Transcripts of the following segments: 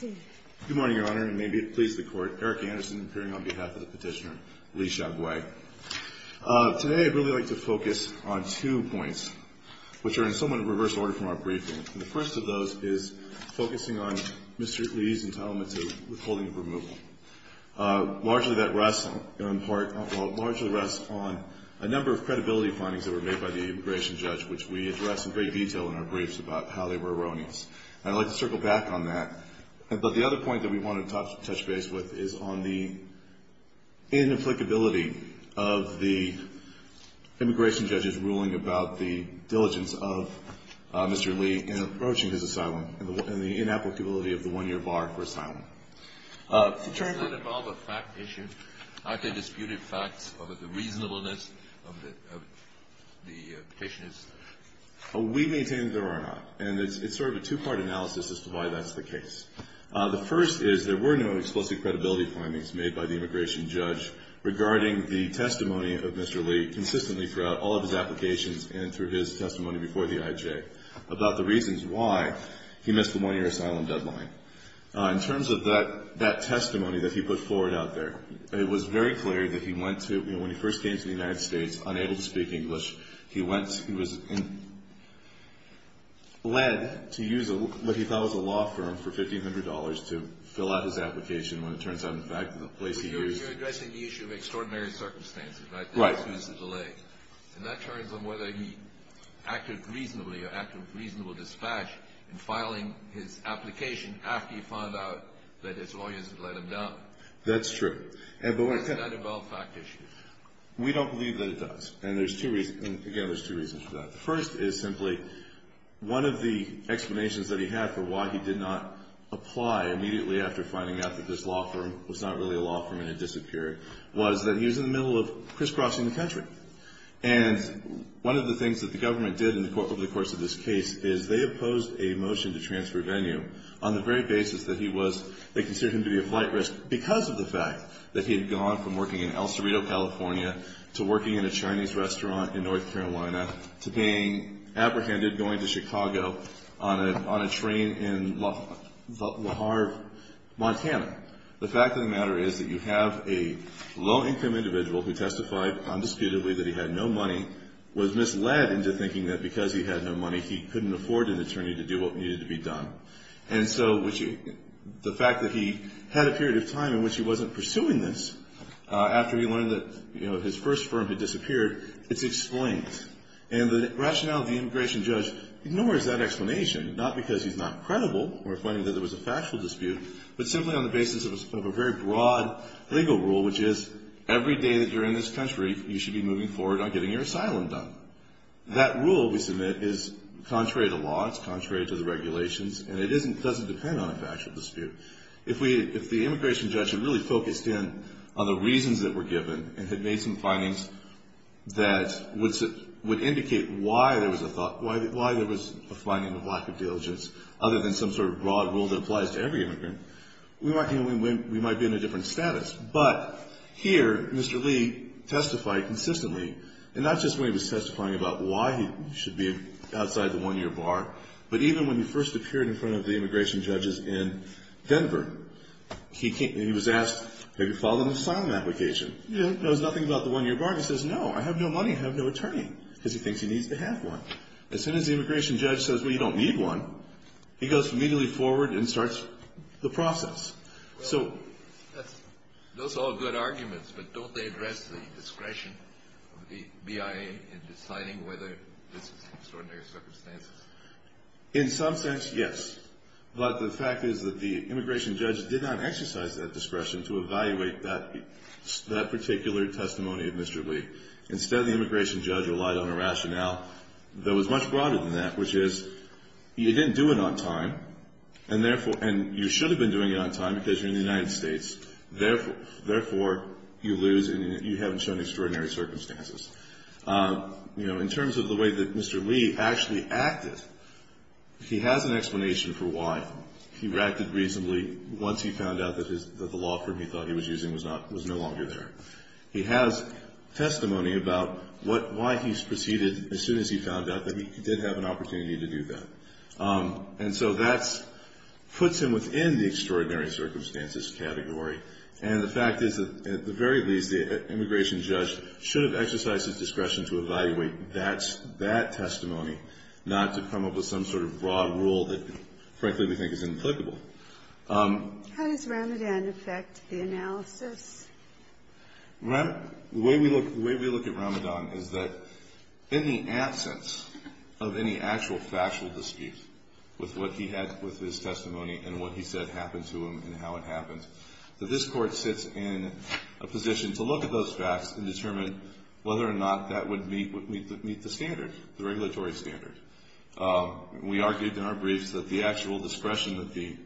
Good morning, Your Honor, and may it please the Court, Eric Anderson appearing on behalf of the petitioner, Lee Shagway. Today I'd really like to focus on two points, which are in somewhat of a reverse order from our briefing. The first of those is focusing on Mr. Lee's entitlement to withholding of removal. Largely that rests on a number of credibility findings that were made by the immigration judge, which we address in great detail in our briefs about how they were erroneous. And I'd like to circle back on that. But the other point that we want to touch base with is on the inapplicability of the immigration judge's ruling about the diligence of Mr. Lee in approaching his asylum and the inapplicability of the one-year bar for asylum. Does that involve a fact issue? Aren't there disputed facts over the reasonableness of the petitioner's? We maintain that there are not. And it's sort of a two-part analysis as to why that's the case. The first is there were no explicit credibility findings made by the immigration judge regarding the testimony of Mr. Lee consistently throughout all of his applications and through his testimony before the IJ about the reasons why he missed the one-year asylum deadline. In terms of that testimony that he put forward out there, it was very clear that he went to, when he first came to the United States, unable to speak English. He was led to use what he thought was a law firm for $1,500 to fill out his application when it turns out, in fact, the place he used. You're addressing the issue of extraordinary circumstances, right? Right. And that turns on whether he acted reasonably or acted with reasonable dispatch in filing his application after he found out that his lawyers had let him down. That's true. Does that involve fact issues? We don't believe that it does. And there's two reasons. Again, there's two reasons for that. The first is simply one of the explanations that he had for why he did not apply immediately after finding out that this law firm was not really a law firm and it disappeared was that he was in the middle of crisscrossing the country. And one of the things that the government did over the course of this case is they opposed a motion to transfer Venue on the very basis that he was, they considered him to be a flight risk because of the fact that he had gone from working in El Cerrito, California, to working in a Chinese restaurant in North Carolina, to being apprehended going to Chicago on a train in La Harve, Montana. The fact of the matter is that you have a low-income individual who testified undisputedly that he had no money, was misled into thinking that because he had no money he couldn't afford an attorney to do what needed to be done. And so the fact that he had a period of time in which he wasn't pursuing this after he learned that his first firm had disappeared, it's explained. And the rationale of the immigration judge ignores that explanation, not because he's not credible or finding that there was a factual dispute, but simply on the basis of a very broad legal rule, which is every day that you're in this country, you should be moving forward on getting your asylum done. That rule, we submit, is contrary to law, it's contrary to the regulations, and it doesn't depend on a factual dispute. If the immigration judge had really focused in on the reasons that were given, and had made some findings that would indicate why there was a finding of lack of diligence, other than some sort of broad rule that applies to every immigrant, we might be in a different status. But here, Mr. Lee testified consistently, and not just when he was testifying about why he should be outside the one-year bar, but even when he first appeared in front of the immigration judges in Denver. He was asked, have you filed an asylum application? He knows nothing about the one-year bar. He says, no, I have no money, I have no attorney, because he thinks he needs to have one. As soon as the immigration judge says, well, you don't need one, he goes immediately forward and starts the process. Those are all good arguments, but don't they address the discretion of the BIA in deciding whether this is extraordinary circumstances? In some sense, yes. But the fact is that the immigration judge did not exercise that discretion to evaluate that particular testimony of Mr. Lee. Instead, the immigration judge relied on a rationale that was much broader than that, which is, you didn't do it on time, and you should have been doing it on time because you're in the United States. Therefore, you lose and you haven't shown extraordinary circumstances. In terms of the way that Mr. Lee actually acted, he has an explanation for why. He reacted reasonably once he found out that the law firm he thought he was using was no longer there. He has testimony about why he proceeded as soon as he found out that he did have an opportunity to do that. And so that puts him within the extraordinary circumstances category. And the fact is that, at the very least, the immigration judge should have exercised his discretion to evaluate that testimony, not to come up with some sort of broad rule that, frankly, we think is inapplicable. How does Ramadan affect the analysis? The way we look at Ramadan is that, in the absence of any actual factual dispute with what he had with his testimony and what he said happened to him and how it happened, that this Court sits in a position to look at those facts and determine whether or not that would meet the standard, the regulatory standard. We argued in our briefs that the actual discretion that the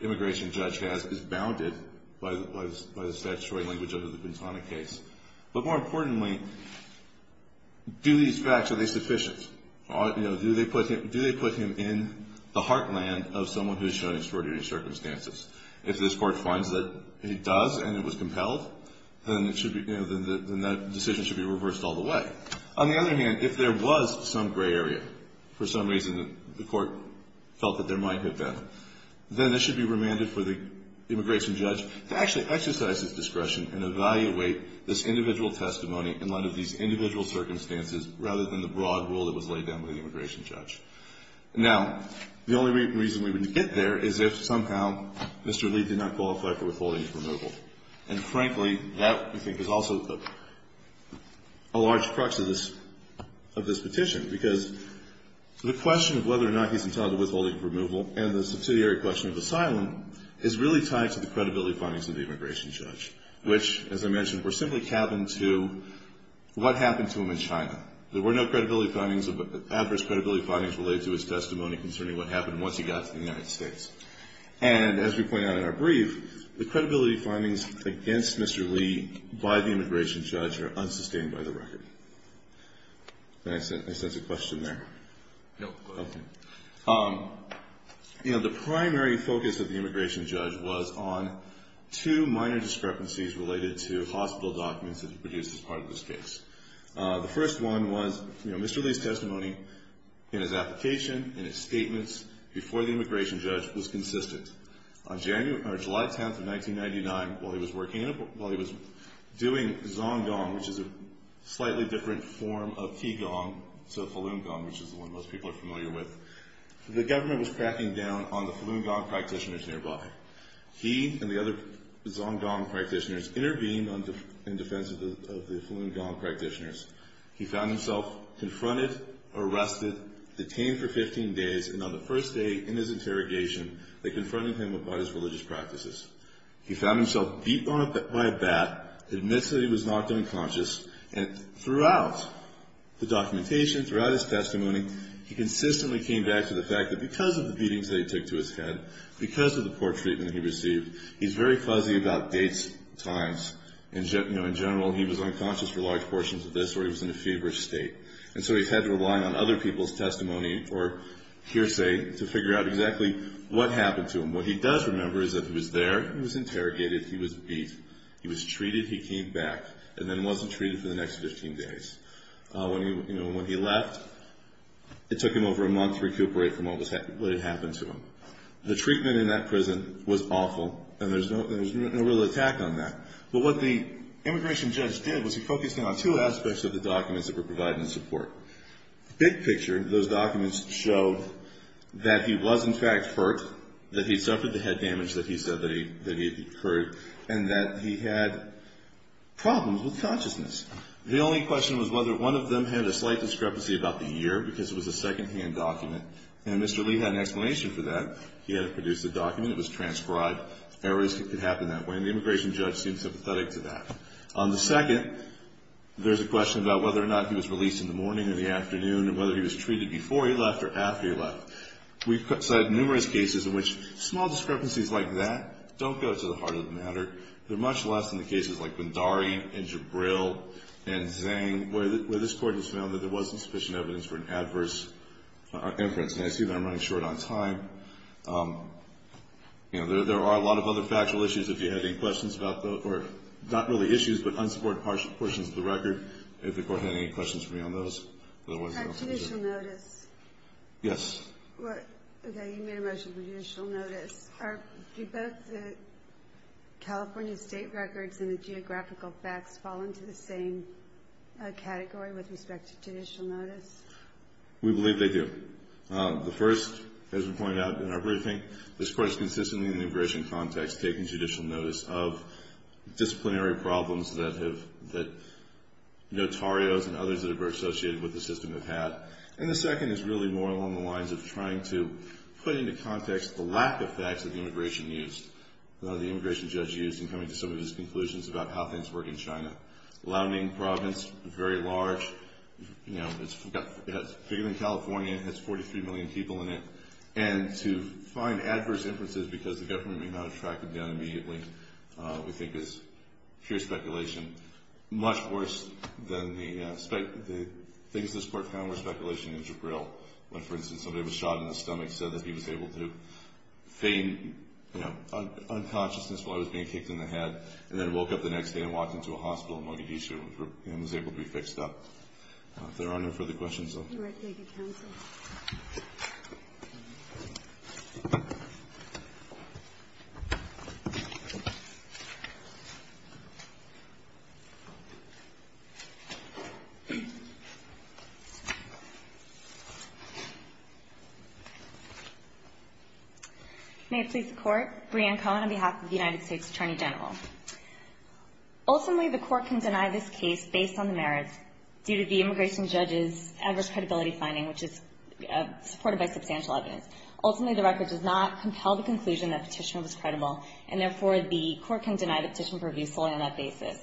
immigration judge has is bounded by the statutory language under the Bintana case. But more importantly, do these facts, are they sufficient? Do they put him in the heartland of someone who's shown extraordinary circumstances? If this Court finds that he does and it was compelled, then that decision should be reversed all the way. On the other hand, if there was some gray area, for some reason the Court felt that there might have been, then it should be remanded for the immigration judge to actually exercise his discretion and evaluate this individual testimony in light of these individual circumstances rather than the broad rule that was laid down by the immigration judge. Now, the only reason we would get there is if somehow Mr. Lee did not qualify for withholding his removal. And frankly, that, we think, is also a large crux of this petition. Because the question of whether or not he's entitled to withholding his removal and the subsidiary question of asylum is really tied to the credibility findings of the immigration judge, which, as I mentioned, were simply tabbed into what happened to him in China. There were no credibility findings, adverse credibility findings, related to his testimony concerning what happened once he got to the United States. And as we point out in our brief, the credibility findings against Mr. Lee by the immigration judge are unsustained by the record. May I ask a question there? No, go ahead. Okay. You know, the primary focus of the immigration judge was on two minor discrepancies related to hospital documents that were produced as part of this case. The first one was, you know, Mr. Lee's testimony in his application, in his statements, before the immigration judge was consistent. On July 10th of 1999, while he was doing zong gong, which is a slightly different form of qi gong to falun gong, which is the one most people are familiar with, the government was cracking down on the falun gong practitioners nearby. He and the other zong gong practitioners intervened in defense of the falun gong practitioners. He found himself confronted, arrested, detained for 15 days, and on the first day in his interrogation, they confronted him about his religious practices. He found himself beat by a bat, admits that he was knocked unconscious, and throughout the documentation, throughout his testimony, he consistently came back to the fact that because of the beatings that he took to his head, because of the poor treatment he received, he's very fuzzy about dates, times. In general, he was unconscious for large portions of this, or he was in a feverish state. And so he's had to rely on other people's testimony or hearsay to figure out exactly what happened to him. What he does remember is that he was there, he was interrogated, he was beat. He was treated, he came back, and then wasn't treated for the next 15 days. When he left, it took him over a month to recuperate from what had happened to him. The treatment in that prison was awful, and there was no real attack on that. But what the immigration judge did was he focused on two aspects of the documents that were provided in support. Big picture, those documents showed that he was, in fact, hurt, that he suffered the head damage that he said that he had incurred, and that he had problems with consciousness. The only question was whether one of them had a slight discrepancy about the year, because it was a secondhand document, and Mr. Lee had an explanation for that. He had produced a document, it was transcribed, errors could happen that way, and the immigration judge seemed sympathetic to that. On the second, there's a question about whether or not he was released in the morning or the afternoon, or whether he was treated before he left or after he left. We've cited numerous cases in which small discrepancies like that don't go to the heart of the matter. They're much less in the cases like Bhandari and Jabril and Zhang, where this Court has found that there wasn't sufficient evidence for an adverse inference. And I see that I'm running short on time. You know, there are a lot of other factual issues, if you have any questions about those, or not really issues but unsupported portions of the record, if the Court had any questions for me on those. On judicial notice. Yes. Okay, you made a motion for judicial notice. Do both the California state records and the geographical facts fall into the same category with respect to judicial notice? We believe they do. The first, as we pointed out in our briefing, this Court is consistently in the immigration context taking judicial notice of disciplinary problems that notarios and others that are associated with the system have had. And the second is really more along the lines of trying to put into context the lack of facts that the immigration judge used in coming to some of his conclusions about how things work in China. Liaoning province, very large. It's bigger than California. It has 43 million people in it. And to find adverse inferences because the government may not have tracked it down immediately we think is pure speculation. Much worse than the things this Court found were speculation in Jabril. When, for instance, somebody was shot in the stomach, said that he was able to feign, you know, unconsciousness while he was being kicked in the head, and then woke up the next day and walked into a hospital in Mogadishu and was able to be fixed up. If there are no further questions, though. All right. Thank you, counsel. May it please the Court. Brianne Cohen on behalf of the United States Attorney General. Ultimately, the Court can deny this case based on the merits due to the immigration judge's adverse credibility finding, which is supported by substantial evidence. Ultimately, the record does not compel the conclusion that petition was credible, and therefore the Court can deny the petition for abuse solely on that basis.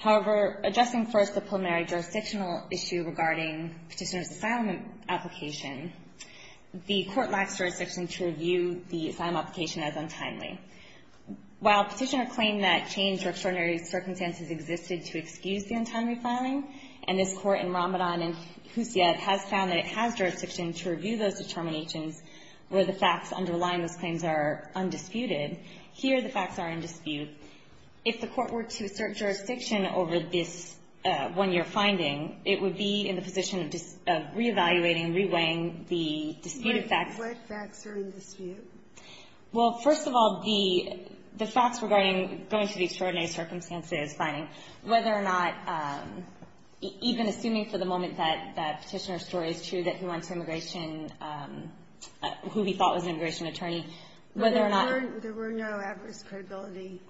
However, addressing first the preliminary jurisdictional issue regarding petitioner's asylum application, the Court lacks jurisdiction to review the asylum application as untimely. While petitioner claimed that change or extraordinary circumstances existed to excuse the untimely filing, and this Court in Ramadan and Hussein has found that it has jurisdiction to review those determinations where the facts underlying those claims are undisputed, here the facts are in dispute. If the Court were to assert jurisdiction over this one-year finding, it would be in the position of reevaluating and reweighing the disputed facts. What facts are in dispute? Well, first of all, the facts regarding going through the extraordinary circumstances finding, whether or not even assuming for the moment that petitioner's story is true, that he went to immigration, who he thought was an immigration attorney, whether or not there were no adverse credibility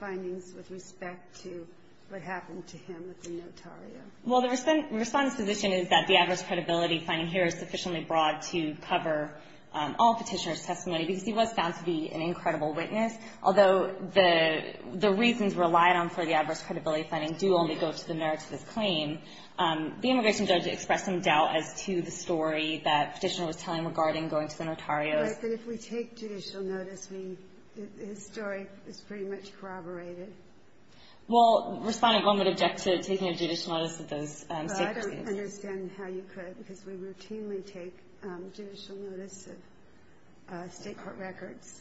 findings with respect to what happened to him at the notario. Well, the Respondent's position is that the adverse credibility finding here is sufficiently broad to cover all petitioner's testimony because he was found to be an incredible witness. Although the reasons relied on for the adverse credibility finding do only go to the merits of his claim, the immigration judge expressed some doubt as to the story that Petitioner was telling regarding going to the notario. But if we take judicial notice, his story is pretty much corroborated. Well, Respondent, one would object to taking a judicial notice of those state court cases. Well, I don't understand how you could because we routinely take judicial notice of state court records.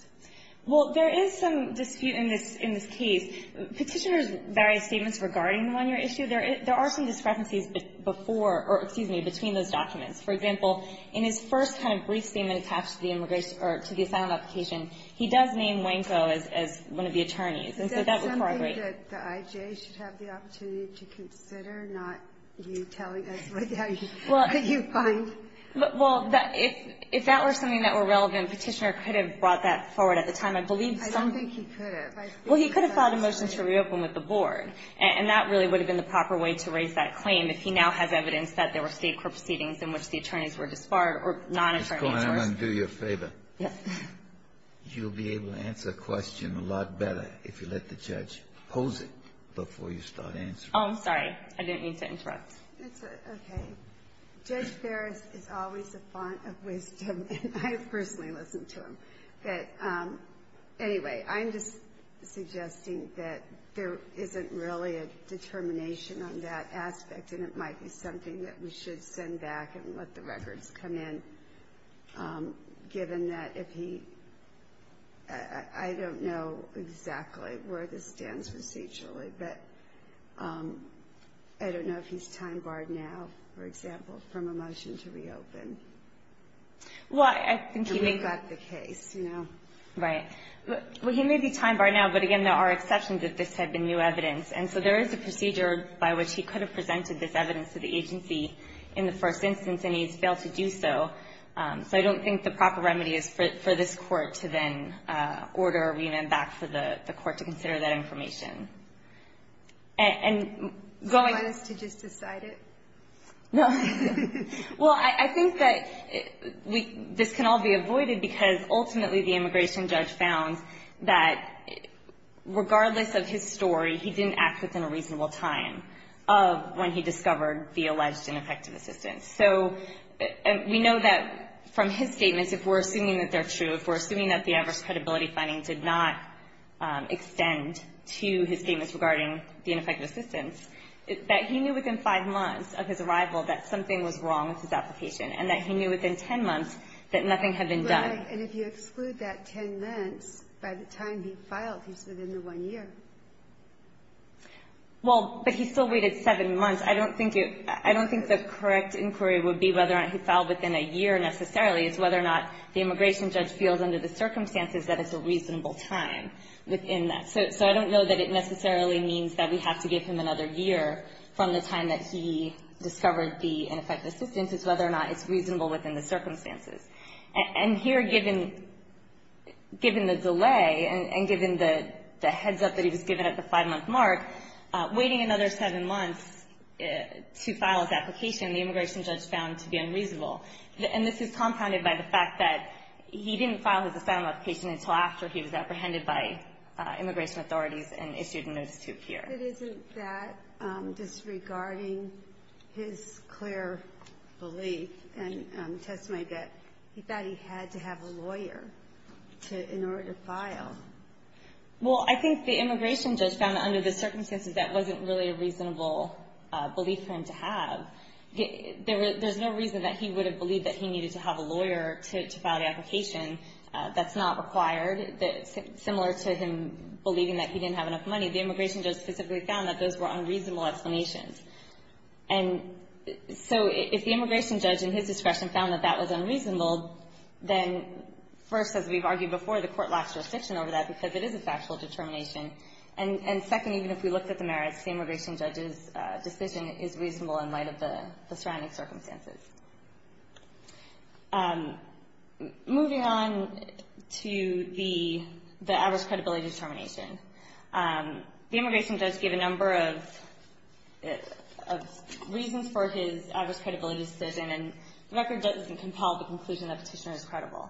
Well, there is some dispute in this case. Petitioner's various statements regarding the one-year issue, there are some discrepancies before or, excuse me, between those documents. For example, in his first kind of brief statement attached to the immigration or to the asylum application, he does name Wanko as one of the attorneys. And so that would corroborate. Is that something that the IJA should have the opportunity to consider, not you telling us what you find? Well, if that were something that were relevant, Petitioner could have brought I believe some of the stuff he said. I don't think he could have. Well, he could have filed a motion to reopen with the Board. And that really would have been the proper way to raise that claim if he now has evidence that there were state court proceedings in which the attorneys were disbarred or non-attorneys were disbarred. Ms. Cohen, I'm going to do you a favor. Yes. You'll be able to answer a question a lot better if you let the judge pose it before you start answering. Oh, I'm sorry. I didn't mean to interrupt. It's okay. Judge Ferris is always a font of wisdom, and I personally listen to him. But anyway, I'm just suggesting that there isn't really a determination on that aspect, and it might be something that we should send back and let the records come in, given that if he – I don't know exactly where this stands procedurally, but I don't know if he's time-barred now, for example, from a motion to reopen. Well, I think he may be. And we've got the case, you know. Right. Well, he may be time-barred now, but, again, there are exceptions if this had been new evidence. And so there is a procedure by which he could have presented this evidence to the agency in the first instance, and he's failed to do so. So I don't think the proper remedy is for this Court to then order a remand back for the Court to consider that information. And going – So I guess to just decide it? No. Well, I think that this can all be avoided because, ultimately, the immigration story, he didn't act within a reasonable time of when he discovered the alleged ineffective assistance. So we know that from his statements, if we're assuming that they're true, if we're assuming that the adverse credibility findings did not extend to his statements regarding the ineffective assistance, that he knew within five months of his arrival that something was wrong with his application, and that he knew within ten months that nothing had been done. Right. And if you exclude that ten months, by the time he filed, he's within the one year. Well, but he still waited seven months. I don't think it – I don't think the correct inquiry would be whether he filed within a year, necessarily. It's whether or not the immigration judge feels under the circumstances that it's a reasonable time within that. So I don't know that it necessarily means that we have to give him another year from the time that he discovered the ineffective assistance. It's whether or not it's reasonable within the circumstances. And here, given the delay and given the heads-up that he was given at the five-month mark, waiting another seven months to file his application, the immigration judge found to be unreasonable. And this is compounded by the fact that he didn't file his asylum application until after he was apprehended by immigration authorities and issued a notice to appear. But it isn't that disregarding his clear belief and testimony that he thought he had to have a lawyer to – in order to file. Well, I think the immigration judge found that under the circumstances that wasn't really a reasonable belief for him to have. There's no reason that he would have believed that he needed to have a lawyer to file the application. That's not required. Similar to him believing that he didn't have enough money, the immigration judge specifically found that those were unreasonable explanations. And so if the immigration judge in his discretion found that that was unreasonable, then first, as we've argued before, the court lacks jurisdiction over that because it is a factual determination. And second, even if we looked at the merits, the immigration judge's decision is reasonable in light of the surrounding circumstances. Moving on to the average credibility determination. The immigration judge gave a number of reasons for his average credibility decision, and the record doesn't compel the conclusion that a petitioner is credible.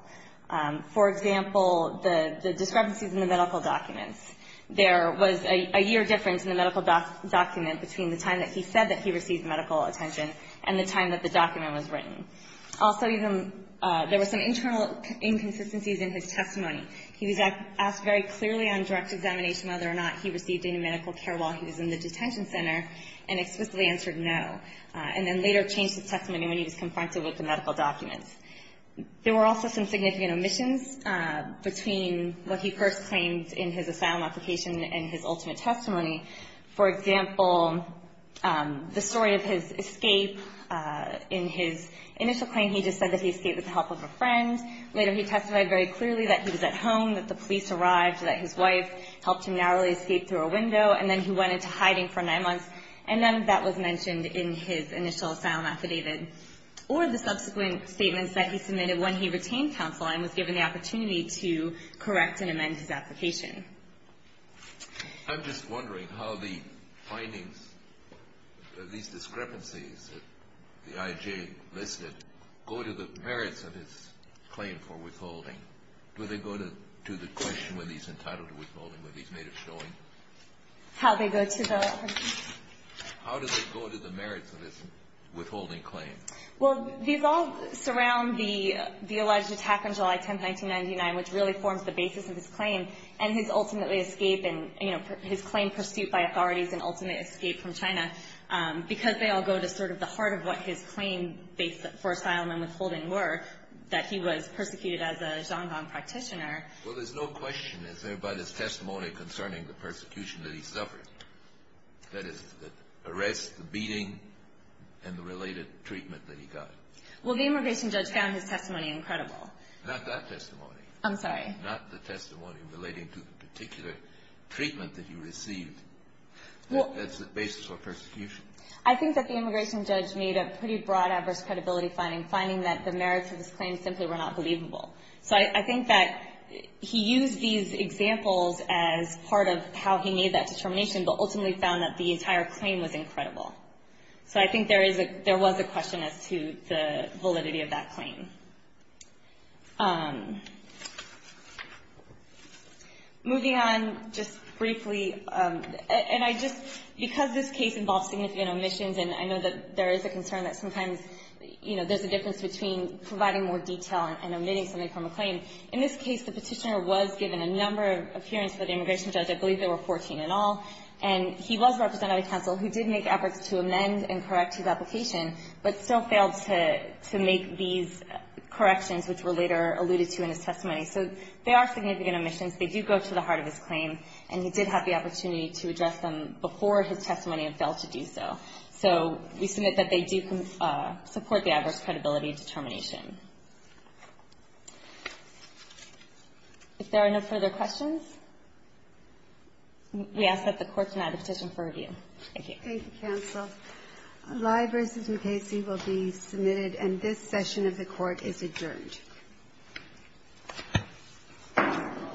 For example, the discrepancies in the medical documents. There was a year difference in the medical document between the time that he said that he received medical attention and the time that the document was written. Also, there were some internal inconsistencies in his testimony. He was asked very clearly on direct examination whether or not he received any medical care while he was in the detention center, and explicitly answered no, and then later changed his testimony when he was confronted with the medical documents. There were also some significant omissions between what he first claimed in his asylum application and his ultimate testimony. For example, the story of his escape. In his initial claim, he just said that he escaped with the help of a friend. Later, he testified very clearly that he was at home, that the police arrived, that his wife helped him narrowly escape through a window, and then he went into hiding for nine months, and then that was mentioned in his initial asylum affidavit. Or the subsequent statements that he submitted when he retained counsel and was given the opportunity to correct and amend his application. I'm just wondering how the findings of these discrepancies, the IJ listed, go to the merits of his claim for withholding. Do they go to the question when he's entitled to withholding, when he's made of showing? How they go to the... How do they go to the merits of his withholding claim? Well, these all surround the alleged attack on July 10, 1999, which really forms the basis of his ultimately escape and, you know, his claim pursued by authorities and ultimately escape from China. Because they all go to sort of the heart of what his claim for asylum and withholding were, that he was persecuted as a Xiong'an practitioner. Well, there's no question, is there, about his testimony concerning the persecution that he suffered? That is, the arrest, the beating, and the related treatment that he got. Well, the immigration judge found his testimony incredible. Not that testimony. I'm sorry. Not the testimony relating to the particular treatment that he received as the basis for persecution. I think that the immigration judge made a pretty broad adverse credibility finding, finding that the merits of his claim simply were not believable. So I think that he used these examples as part of how he made that determination, but ultimately found that the entire claim was incredible. So I think there was a question as to the validity of that claim. Moving on just briefly, and I just, because this case involves significant omissions, and I know that there is a concern that sometimes, you know, there's a difference between providing more detail and omitting something from a claim. In this case, the petitioner was given a number of hearings for the immigration judge. I believe there were 14 in all. And he was represented by counsel who did make efforts to amend and correct his application, but still failed to make these corrections, which were later alluded to in his testimony. So they are significant omissions. They do go to the heart of his claim, and he did have the opportunity to address them before his testimony and failed to do so. So we submit that they do support the adverse credibility determination. If there are no further questions, we ask that the Court deny the petition for review. Thank you, counsel. Lye v. McKayse will be submitted, and this session of the Court is adjourned.